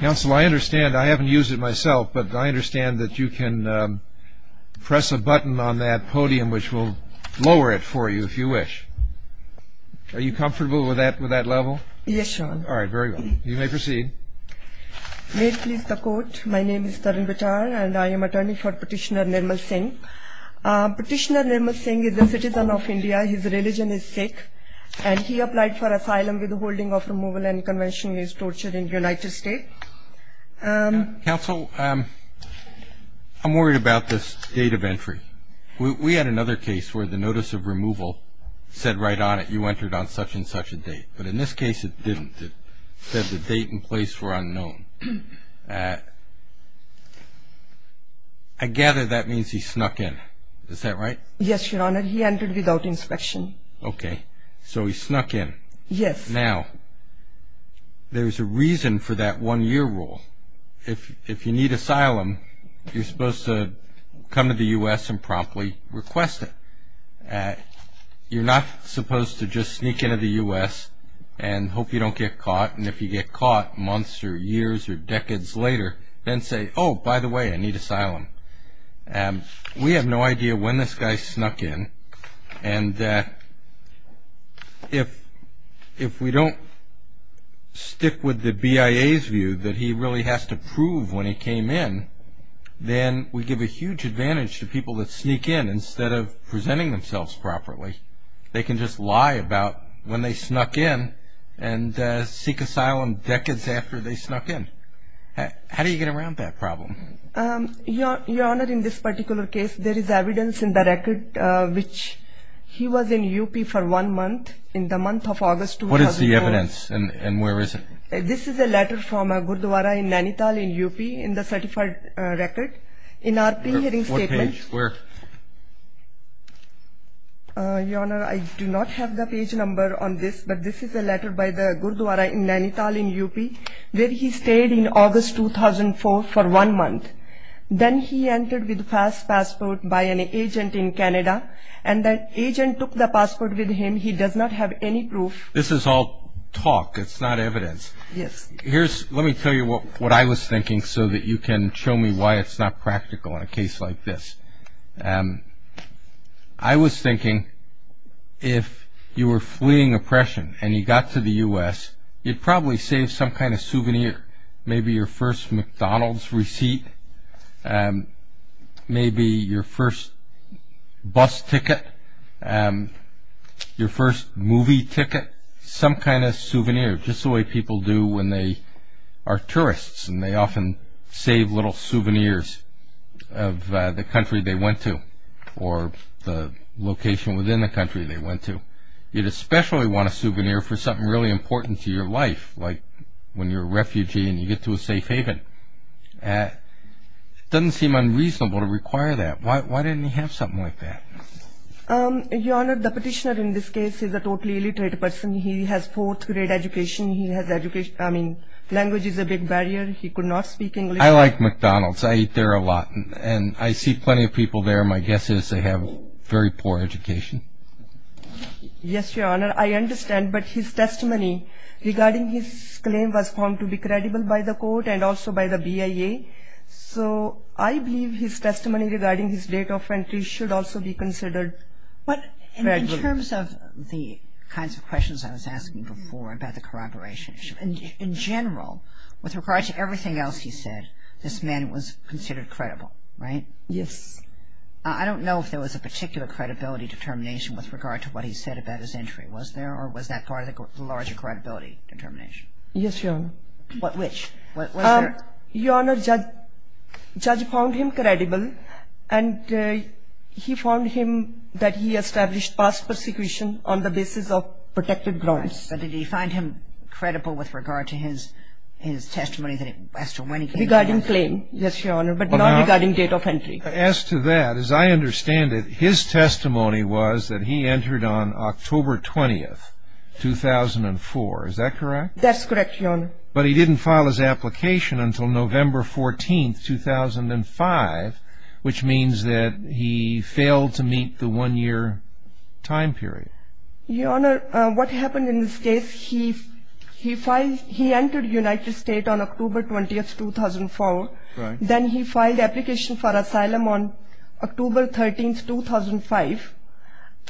Council, I understand, I haven't used it myself, but I understand that you can press a button on that podium which will lower it for you, if you wish. Are you comfortable with that level? Yes, Your Honor. All right, very well. You may proceed. May it please the Court, my name is Tarun Bittar, and I am attorney for Petitioner Nirmal Singh. Petitioner Nirmal Singh is a citizen of India, his religion is Sikh, and he applied for asylum with the holding of removal and conventionally is tortured in United States. Counsel, I'm worried about this date of entry. We had another case where the notice of removal said right on it, you entered on such and such a date, but in this case it didn't. It said the date and place were unknown. I gather that means he snuck in, is that right? Yes, Your Honor, he entered without inspection. Okay, so he snuck in. Yes. Now, there's a reason for that one-year rule. If you need asylum, you're supposed to come to the U.S. and promptly request it. You're not supposed to just sneak into the U.S. and hope you don't get caught, and if you get caught months or years or decades later, then say, oh, by the way, I need asylum. We have no idea when this guy snuck in, and if we don't stick with the BIA's view that he really has to prove when he came in, then we give a huge advantage to people that sneak in instead of presenting themselves properly. They can just lie about when they snuck in and seek asylum decades after they snuck in. How do you get around that problem? Your Honor, in this particular case, there is evidence in the record which he was in U.P. for one month, in the month of August 2004. What is the evidence, and where is it? This is a letter from a gurudwara in Nainital in U.P. in the certified record. In our pre-hearing statement. What page? Where? Your Honor, I do not have the page number on this, but this is a letter by the gurudwara in Nainital in U.P. where he stayed in August 2004 for one month. Then he entered with a passport by an agent in Canada, and the agent took the passport with him. He does not have any proof. This is all talk. It's not evidence. Yes. Let me tell you what I was thinking so that you can show me why it's not practical in a case like this. I was thinking if you were fleeing oppression and you got to the U.S., you'd probably save some kind of souvenir. Maybe your first McDonald's receipt. Maybe your first bus ticket. Your first movie ticket. Some kind of souvenir. Just the way people do when they are tourists and they often save little souvenirs of the country they went to or the location within the country they went to. You'd especially want a souvenir for something really important to your life, like when you're a refugee and you get to a safe haven. It doesn't seem unreasonable to require that. Why didn't he have something like that? Your Honor, the petitioner in this case is a totally illiterate person. He has fourth grade education. He has education ñ I mean, language is a big barrier. He could not speak English. I like McDonald's. I eat there a lot. And I see plenty of people there. My guess is they have very poor education. Yes, Your Honor. I understand. But his testimony regarding his claim was found to be credible by the court and also by the BIA. So I believe his testimony regarding his date of entry should also be considered credible. But in terms of the kinds of questions I was asking before about the corroboration issue, in general, with regard to everything else he said, this man was considered credible, right? Yes. I don't know if there was a particular credibility determination with regard to what he said about his entry. Was there or was that part of the larger credibility determination? Yes, Your Honor. Which? Your Honor, the judge found him credible, and he found him that he established past persecution on the basis of protected grounds. But did he find him credible with regard to his testimony as to when he came in? Regarding claim, yes, Your Honor, but not regarding date of entry. As to that, as I understand it, his testimony was that he entered on October 20th, 2004. Is that correct? That's correct, Your Honor. But he didn't file his application until November 14th, 2005, which means that he failed to meet the one-year time period. Your Honor, what happened in this case, he entered United States on October 20th, 2004. Then he filed application for asylum on October 13th, 2005.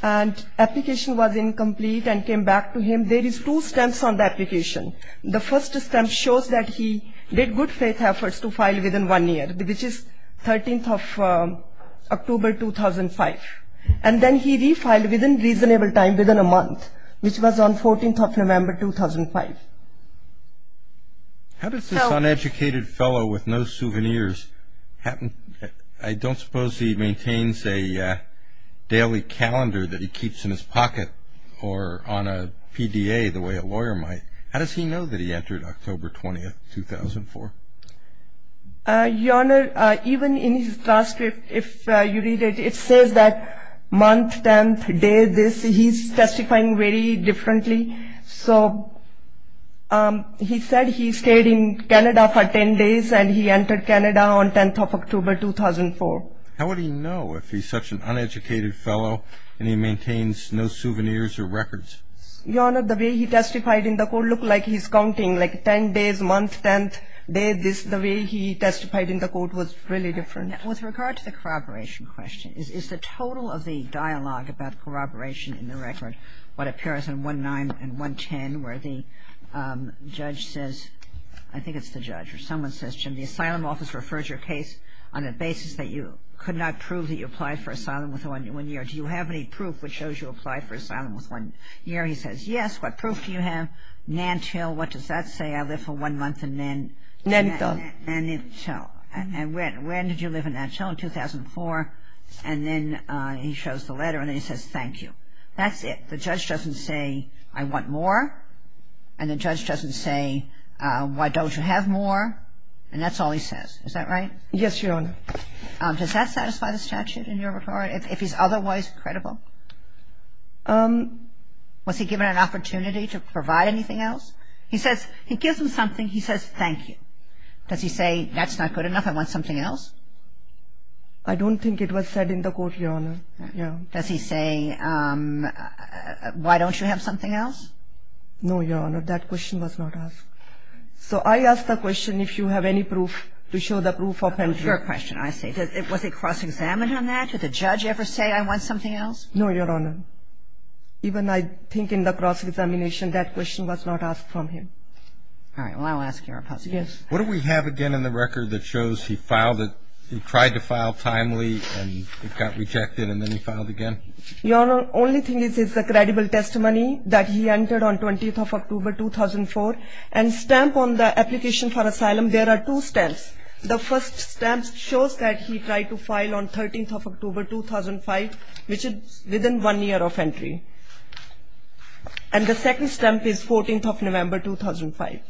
And application was incomplete and came back to him. There is two steps on the application. The first step shows that he did good faith efforts to file within one year, which is 13th of October, 2005. And then he refiled within reasonable time, within a month, which was on 14th of November, 2005. How does this uneducated fellow with no souvenirs happen? I don't suppose he maintains a daily calendar that he keeps in his pocket or on a PDA the way a lawyer might. How does he know that he entered October 20th, 2004? Your Honor, even in his transcript, if you read it, it says that month, 10th, day, this. He's testifying very differently. So he said he stayed in Canada for 10 days and he entered Canada on 10th of October, 2004. How would he know if he's such an uneducated fellow and he maintains no souvenirs or records? Your Honor, the way he testified in the court looked like he's counting, like 10 days, month, 10th, day, this. The way he testified in the court was really different. With regard to the corroboration question, is the total of the dialogue about corroboration in the record what appears in 1-9 and 1-10 where the judge says – I think it's the judge or someone says, Jim, the asylum office refers your case on the basis that you could not prove that you applied for asylum within one year. Do you have any proof which shows you applied for asylum within one year? He says, yes. What proof do you have? Nantil. What does that say? I live for one month in Nantil. And when did you live in Nantil? In 2004. And then he shows the letter and then he says, thank you. That's it. The judge doesn't say, I want more. And the judge doesn't say, why don't you have more? And that's all he says. Is that right? Yes, Your Honor. Does that satisfy the statute in your report? If he's otherwise credible? Was he given an opportunity to provide anything else? He says – he gives him something. He says, thank you. Does he say, that's not good enough, I want something else? I don't think it was said in the court, Your Honor. Does he say, why don't you have something else? No, Your Honor. That question was not asked. So I ask the question if you have any proof to show the proof of Nantil. Your question, I see. Was he cross-examined on that? Did the judge ever say, I want something else? No, Your Honor. Even I think in the cross-examination, that question was not asked from him. All right. Well, I'll ask your opposition. Yes. What do we have again in the record that shows he filed it? He tried to file timely and it got rejected and then he filed again? Your Honor, only thing is the credible testimony that he entered on 20th of October, 2004. And stamp on the application for asylum, there are two stamps. The first stamp shows that he tried to file on 13th of October, 2005, which is within one year of entry. And the second stamp is 14th of November, 2005.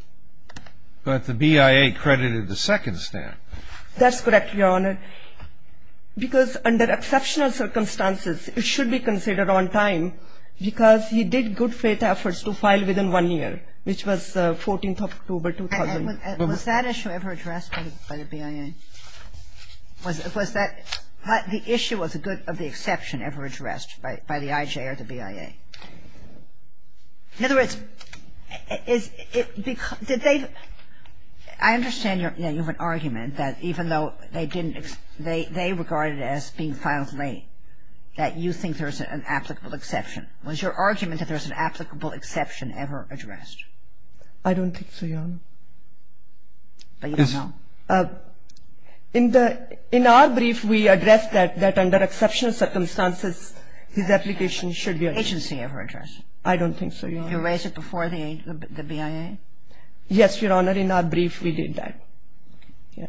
But the BIA credited the second stamp. That's correct, Your Honor. Because under exceptional circumstances, it should be considered on time because he did good faith efforts to file within one year, which was 14th of October, 2000. And was that issue ever addressed by the BIA? Was that the issue of the exception ever addressed by the IJ or the BIA? In other words, is it because they've – I understand your argument that even though they didn't – they regarded it as being filed late, that you think there's an applicable exception. Was your argument that there's an applicable exception ever addressed? I don't think so, Your Honor. But you don't know. In the – in our brief, we addressed that under exceptional circumstances, his application should be on time. Agency ever addressed? I don't think so, Your Honor. You raised it before the BIA? Yes, Your Honor. In our brief, we did that. Yeah.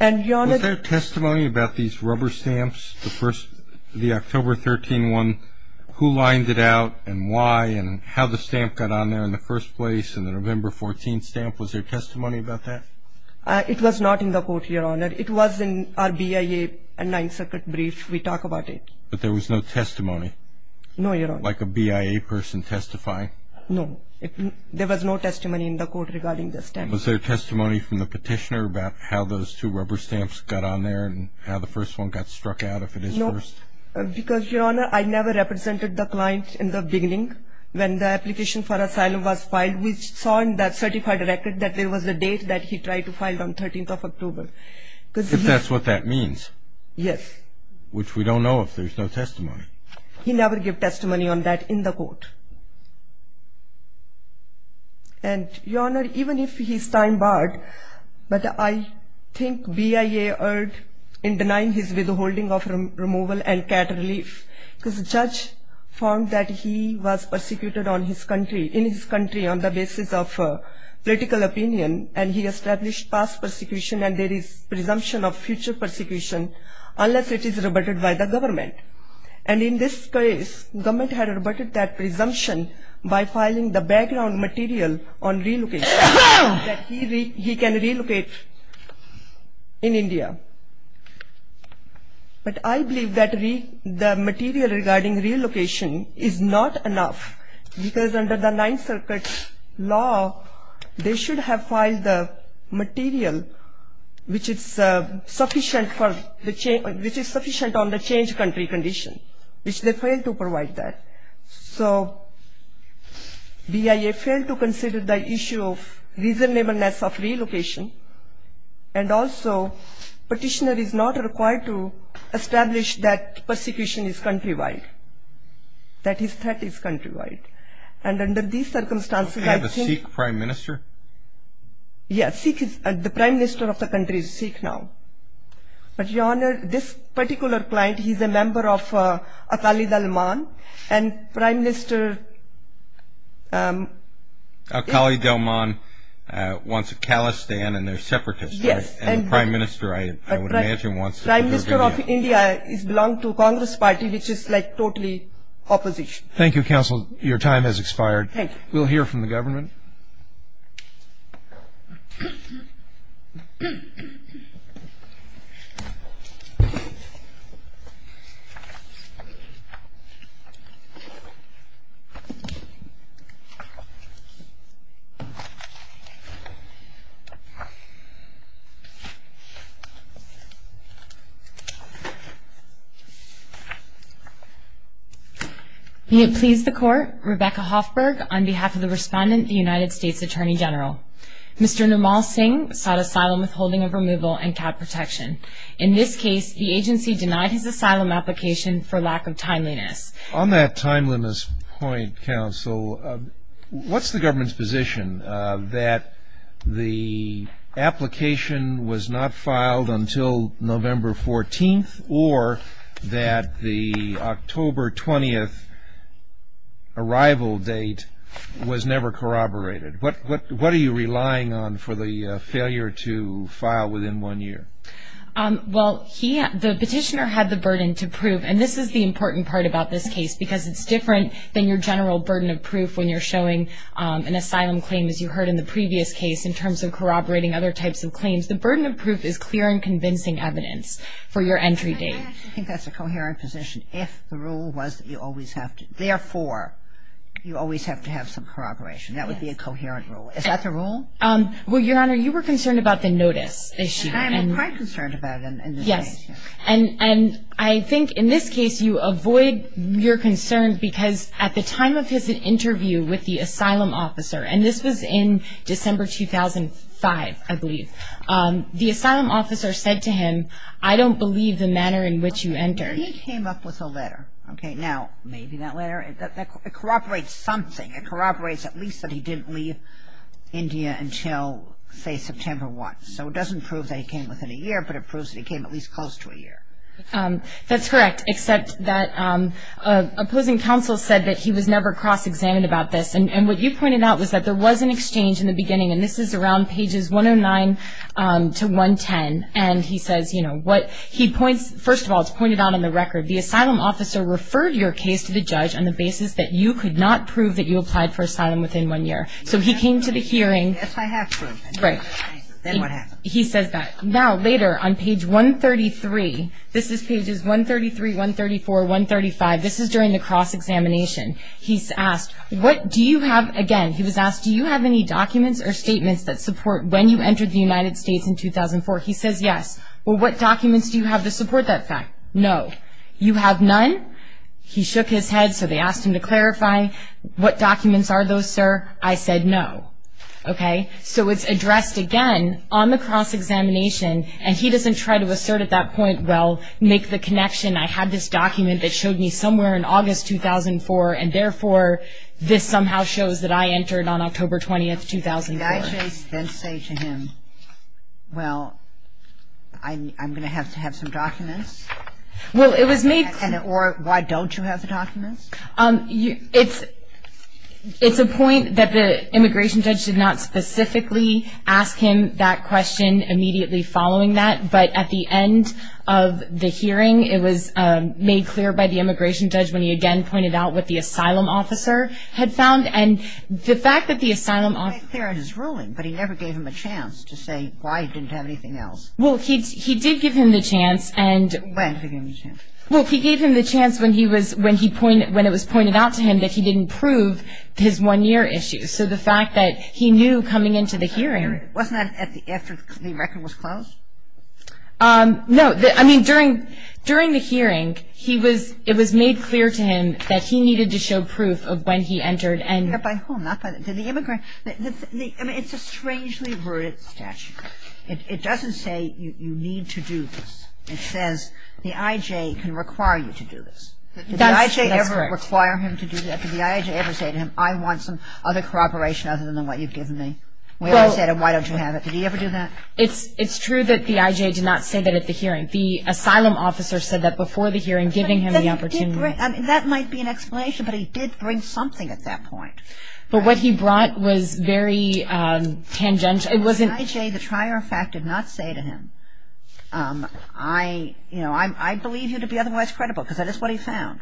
And, Your Honor – Was there testimony about these rubber stamps, the first – the October 13 one, who lined it out and why and how the stamp got on there in the first place and the November 14 stamp? Was there testimony about that? It was not in the court, Your Honor. It was in our BIA and Ninth Circuit brief. We talk about it. But there was no testimony? No, Your Honor. Like a BIA person testifying? No. There was no testimony in the court regarding the stamp. Was there testimony from the petitioner about how those two rubber stamps got on there and how the first one got struck out, if it is first? Because, Your Honor, I never represented the client in the beginning. When the application for asylum was filed, we saw in that certified record that there was a date that he tried to file on 13th of October. If that's what that means. Yes. Which we don't know if there's no testimony. He never gave testimony on that in the court. And, Your Honor, even if he's time barred, but I think BIA erred in denying his withholding of removal and cat relief. Because the judge found that he was persecuted in his country on the basis of political opinion and he established past persecution and there is presumption of future persecution unless it is rebutted by the government. And in this case, the government had rebutted that presumption by filing the background material on relocation. That he can relocate in India. But I believe that the material regarding relocation is not enough because under the Ninth Circuit law, they should have filed the material which is sufficient on the changed country condition. Which they failed to provide that. So, BIA failed to consider the issue of reasonableness of relocation. And also, petitioner is not required to establish that persecution is countrywide. That his threat is countrywide. And under these circumstances, I think. Does he have a Sikh Prime Minister? Yes, the Prime Minister of the country is Sikh now. But Your Honor, this particular client, he is a member of Akali Dalman. And Prime Minister... Akali Dalman wants to callous stand and they are separatists. Yes. And the Prime Minister, I would imagine, wants to... The Prime Minister of India belongs to Congress Party which is like totally opposition. Thank you, Counsel. Your time has expired. Thank you. We will hear from the government. Thank you. May it please the Court, Rebecca Hoffberg on behalf of the Respondent, the United States Attorney General. Mr. Nirmal Singh sought asylum withholding of removal and cap protection. In this case, the agency denied his asylum application for lack of timeliness. On that timeliness point, Counsel, what's the government's position that the application was not filed until November 14th or that the October 20th arrival date was never corroborated? What are you relying on for the failure to file within one year? Well, the petitioner had the burden to prove. And this is the important part about this case because it's different than your general burden of proof when you're showing an asylum claim, as you heard in the previous case, in terms of corroborating other types of claims. The burden of proof is clear and convincing evidence for your entry date. I think that's a coherent position. If the rule was that you always have to... Therefore, you always have to have some corroboration. That would be a coherent rule. Is that the rule? Well, Your Honor, you were concerned about the notice issue. I am quite concerned about it in this case. Yes. And I think in this case you avoid your concern because at the time of his interview with the asylum officer, and this was in December 2005, I believe, the asylum officer said to him, I don't believe the manner in which you entered. He came up with a letter. Okay. Now, maybe that letter, it corroborates something. It corroborates at least that he didn't leave India until, say, September 1. So it doesn't prove that he came within a year, but it proves that he came at least close to a year. That's correct, except that opposing counsel said that he was never cross-examined about this, and what you pointed out was that there was an exchange in the beginning, and this is around pages 109 to 110, and he says, you know, what he points... First of all, it's pointed out on the record, the asylum officer referred your case to the judge on the basis that you could not prove that you applied for asylum within one year. So he came to the hearing. Yes, I have proved that. Right. Then what happened? He says that. Now, later on page 133, this is pages 133, 134, 135, this is during the cross-examination. He's asked, what do you have, again, he was asked, do you have any documents or statements that support when you entered the United States in 2004? He says yes. Well, what documents do you have to support that fact? No. You have none? He shook his head, so they asked him to clarify. What documents are those, sir? I said no. Okay? So it's addressed again on the cross-examination, and he doesn't try to assert at that point, well, make the connection, I had this document that showed me somewhere in August 2004, and therefore this somehow shows that I entered on October 20th, 2004. Did I just then say to him, well, I'm going to have to have some documents? Well, it was made clear. Or why don't you have the documents? It's a point that the immigration judge did not specifically ask him that question immediately following that, but at the end of the hearing it was made clear by the immigration judge when he again pointed out what the asylum officer had found. And the fact that the asylum officer --. It was made clear in his ruling, but he never gave him a chance to say why he didn't have anything else. Well, he did give him the chance and --. When did he give him the chance? Well, he gave him the chance when it was pointed out to him that he didn't prove his one-year issue. So the fact that he knew coming into the hearing. Wasn't that after the record was closed? No. I mean, during the hearing it was made clear to him that he needed to show proof of when he entered and --. Not by whom? Did the immigrant? I mean, it's a strangely worded statute. It doesn't say you need to do this. It says the IJ can require you to do this. That's correct. Did the IJ ever require him to do that? Did the IJ ever say to him, I want some other corroboration other than what you've given me? When I said, well, why don't you have it? Did he ever do that? It's true that the IJ did not say that at the hearing. The asylum officer said that before the hearing, giving him the opportunity. That might be an explanation, but he did bring something at that point. But what he brought was very tangential. The IJ, the trier of fact, did not say to him, I believe you to be otherwise credible, because that is what he found.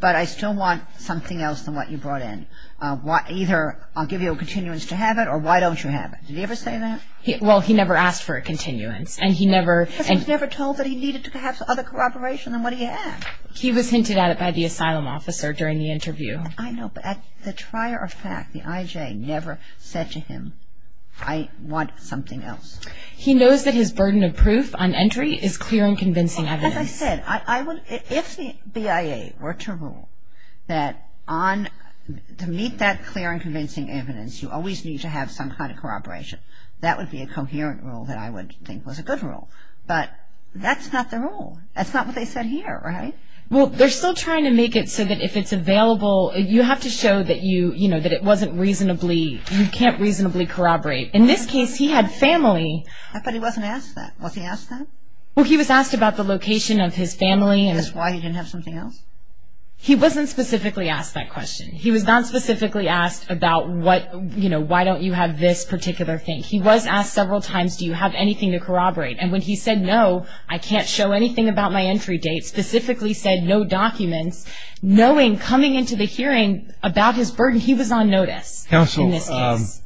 But I still want something else than what you brought in. Either I'll give you a continuance to have it or why don't you have it. Did he ever say that? Well, he never asked for a continuance. Because he was never told that he needed to have other corroboration than what he had. He was hinted at it by the asylum officer during the interview. I know, but the trier of fact, the IJ, never said to him, I want something else. He knows that his burden of proof on entry is clear and convincing evidence. As I said, if the BIA were to rule that to meet that clear and convincing evidence, you always need to have some kind of corroboration, that would be a coherent rule that I would think was a good rule. But that's not the rule. That's not what they said here, right? Well, they're still trying to make it so that if it's available, you have to show that it wasn't reasonably, you can't reasonably corroborate. In this case, he had family. But he wasn't asked that. Was he asked that? Well, he was asked about the location of his family. Is this why he didn't have something else? He wasn't specifically asked that question. He was not specifically asked about what, you know, why don't you have this particular thing. He was asked several times, do you have anything to corroborate? And when he said no, I can't show anything about my entry date, specifically said no documents, knowing coming into the hearing about his burden, he was on notice in this case. Counsel,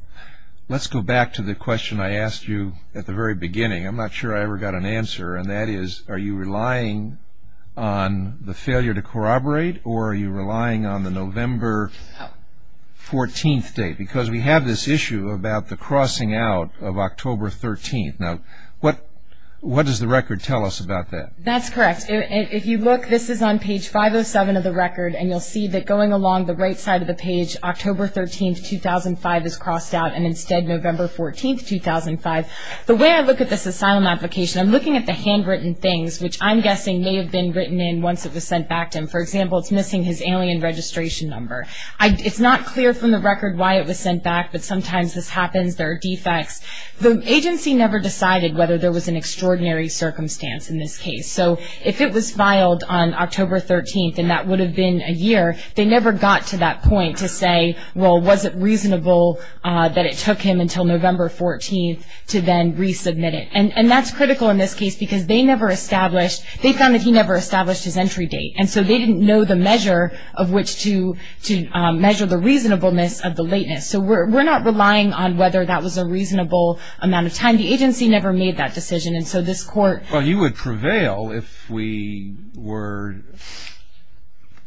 let's go back to the question I asked you at the very beginning. I'm not sure I ever got an answer, and that is, are you relying on the failure to corroborate, or are you relying on the November 14th date? Because we have this issue about the crossing out of October 13th. Now, what does the record tell us about that? That's correct. If you look, this is on page 507 of the record, and you'll see that going along the right side of the page, October 13th, 2005 is crossed out, and instead November 14th, 2005. The way I look at this asylum application, I'm looking at the handwritten things, which I'm guessing may have been written in once it was sent back to him. For example, it's missing his alien registration number. It's not clear from the record why it was sent back, but sometimes this happens, there are defects. The agency never decided whether there was an extraordinary circumstance in this case. So if it was filed on October 13th, and that would have been a year, they never got to that point to say, well, was it reasonable that it took him until November 14th to then resubmit it? And that's critical in this case, because they never established, they found that he never established his entry date, and so they didn't know the measure of which to measure the reasonableness of the lateness. So we're not relying on whether that was a reasonable amount of time. The agency never made that decision, and so this court. Well, you would prevail if we were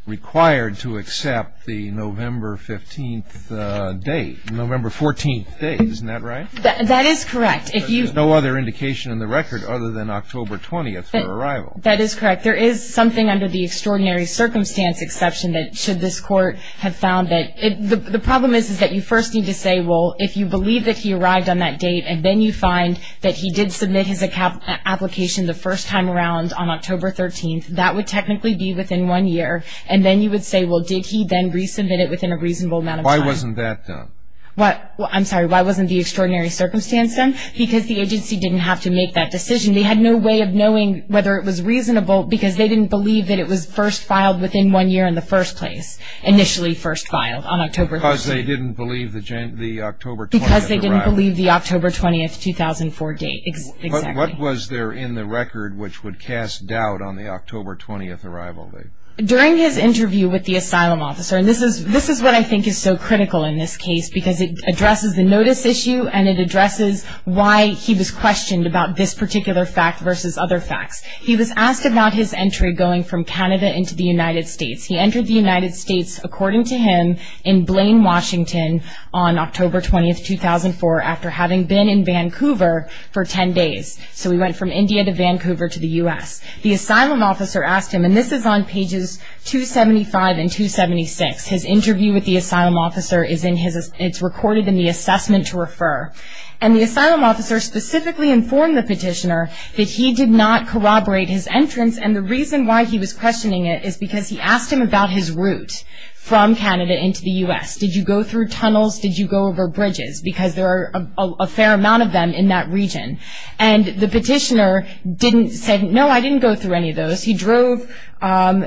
required to accept the November 15th date, November 14th date. Isn't that right? That is correct. There's no other indication in the record other than October 20th for arrival. That is correct. There is something under the extraordinary circumstance exception that should this court have found it. The problem is that you first need to say, well, if you believe that he arrived on that date, and then you find that he did submit his application the first time around on October 13th, that would technically be within one year. And then you would say, well, did he then resubmit it within a reasonable amount of time? Why wasn't that done? I'm sorry. Why wasn't the extraordinary circumstance done? Because the agency didn't have to make that decision. They had no way of knowing whether it was reasonable because they didn't believe that it was first filed within one year in the first place, initially first filed on October 13th. Because they didn't believe the October 20th arrival. Because they didn't believe the October 20th, 2004 date. Exactly. What was there in the record which would cast doubt on the October 20th arrival date? During his interview with the asylum officer, and this is what I think is so critical in this case because it addresses the notice issue and it addresses why he was questioned about this particular fact versus other facts. He was asked about his entry going from Canada into the United States. He entered the United States, according to him, in Blaine, Washington, on October 20th, 2004, after having been in Vancouver for ten days. So he went from India to Vancouver to the U.S. The asylum officer asked him, and this is on pages 275 and 276. His interview with the asylum officer is recorded in the assessment to refer. And the asylum officer specifically informed the petitioner that he did not corroborate his entrance, and the reason why he was questioning it is because he asked him about his route from Canada into the U.S. Did you go through tunnels? Did you go over bridges? Because there are a fair amount of them in that region. And the petitioner didn't say, no, I didn't go through any of those. He drove,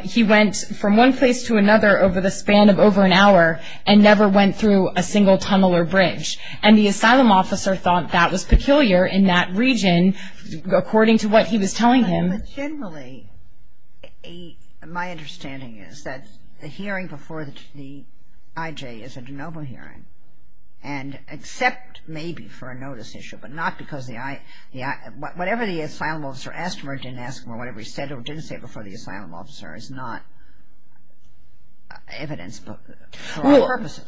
he went from one place to another over the span of over an hour and never went through a single tunnel or bridge. And the asylum officer thought that was peculiar in that region according to what he was telling him. But generally, my understanding is that the hearing before the IJ is a de novo hearing and except maybe for a notice issue, but not because the IJ, whatever the asylum officer asked him or didn't ask him or whatever he said or didn't say before the asylum officer is not evidence for our purposes.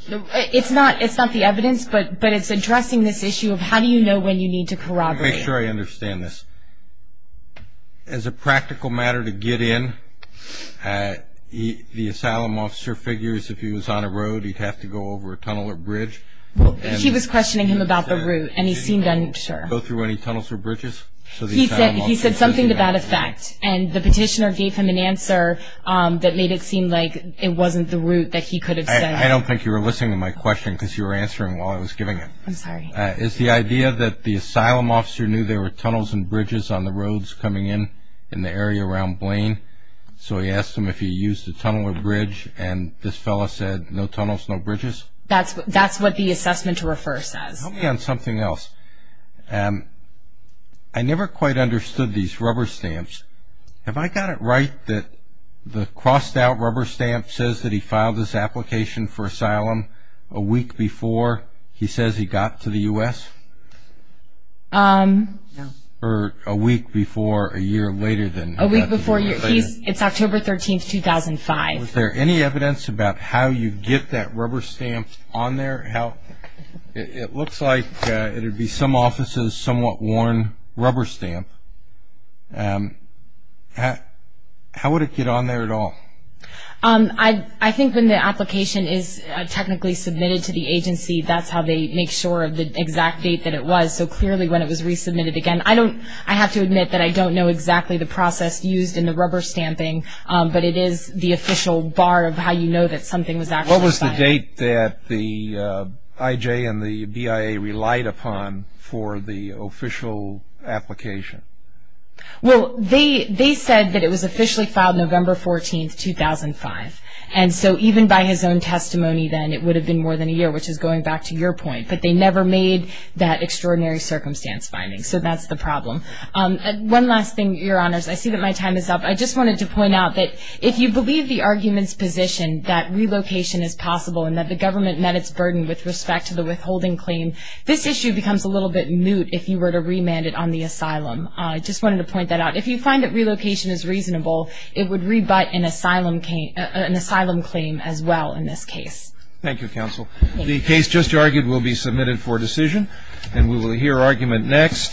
It's not the evidence, but it's addressing this issue of how do you know when you need to corroborate. Let me make sure I understand this. As a practical matter to get in, the asylum officer figures if he was on a road, he'd have to go over a tunnel or bridge. He was questioning him about the route and he seemed unsure. Did he go through any tunnels or bridges? He said something to that effect. And the petitioner gave him an answer that made it seem like it wasn't the route that he could have said. I don't think you were listening to my question because you were answering while I was giving it. I'm sorry. It's the idea that the asylum officer knew there were tunnels and bridges on the roads coming in in the area around Blaine. So he asked him if he used a tunnel or bridge, and this fellow said, no tunnels, no bridges. That's what the assessment to refer says. Help me on something else. I never quite understood these rubber stamps. Have I got it right that the crossed-out rubber stamp says that he filed his application for asylum a week before he says he got to the U.S.? Or a week before a year later than that. A week before a year. It's October 13, 2005. Was there any evidence about how you get that rubber stamp on there? It looks like it would be some officer's somewhat worn rubber stamp. How would it get on there at all? I think when the application is technically submitted to the agency, that's how they make sure of the exact date that it was. So clearly when it was resubmitted again, I have to admit that I don't know exactly the process used in the rubber stamping, but it is the official bar of how you know that something was actually filed. What was the date that the IJ and the BIA relied upon for the official application? Well, they said that it was officially filed November 14, 2005. And so even by his own testimony then, it would have been more than a year, which is going back to your point. But they never made that extraordinary circumstance finding. So that's the problem. One last thing, Your Honors. I see that my time is up. I just wanted to point out that if you believe the argument's position that relocation is possible and that the government met its burden with respect to the withholding claim, this issue becomes a little bit moot if you were to remand it on the asylum. I just wanted to point that out. If you find that relocation is reasonable, it would rebut an asylum claim as well in this case. Thank you, Counsel. The case just argued will be submitted for decision, and we will hear argument next.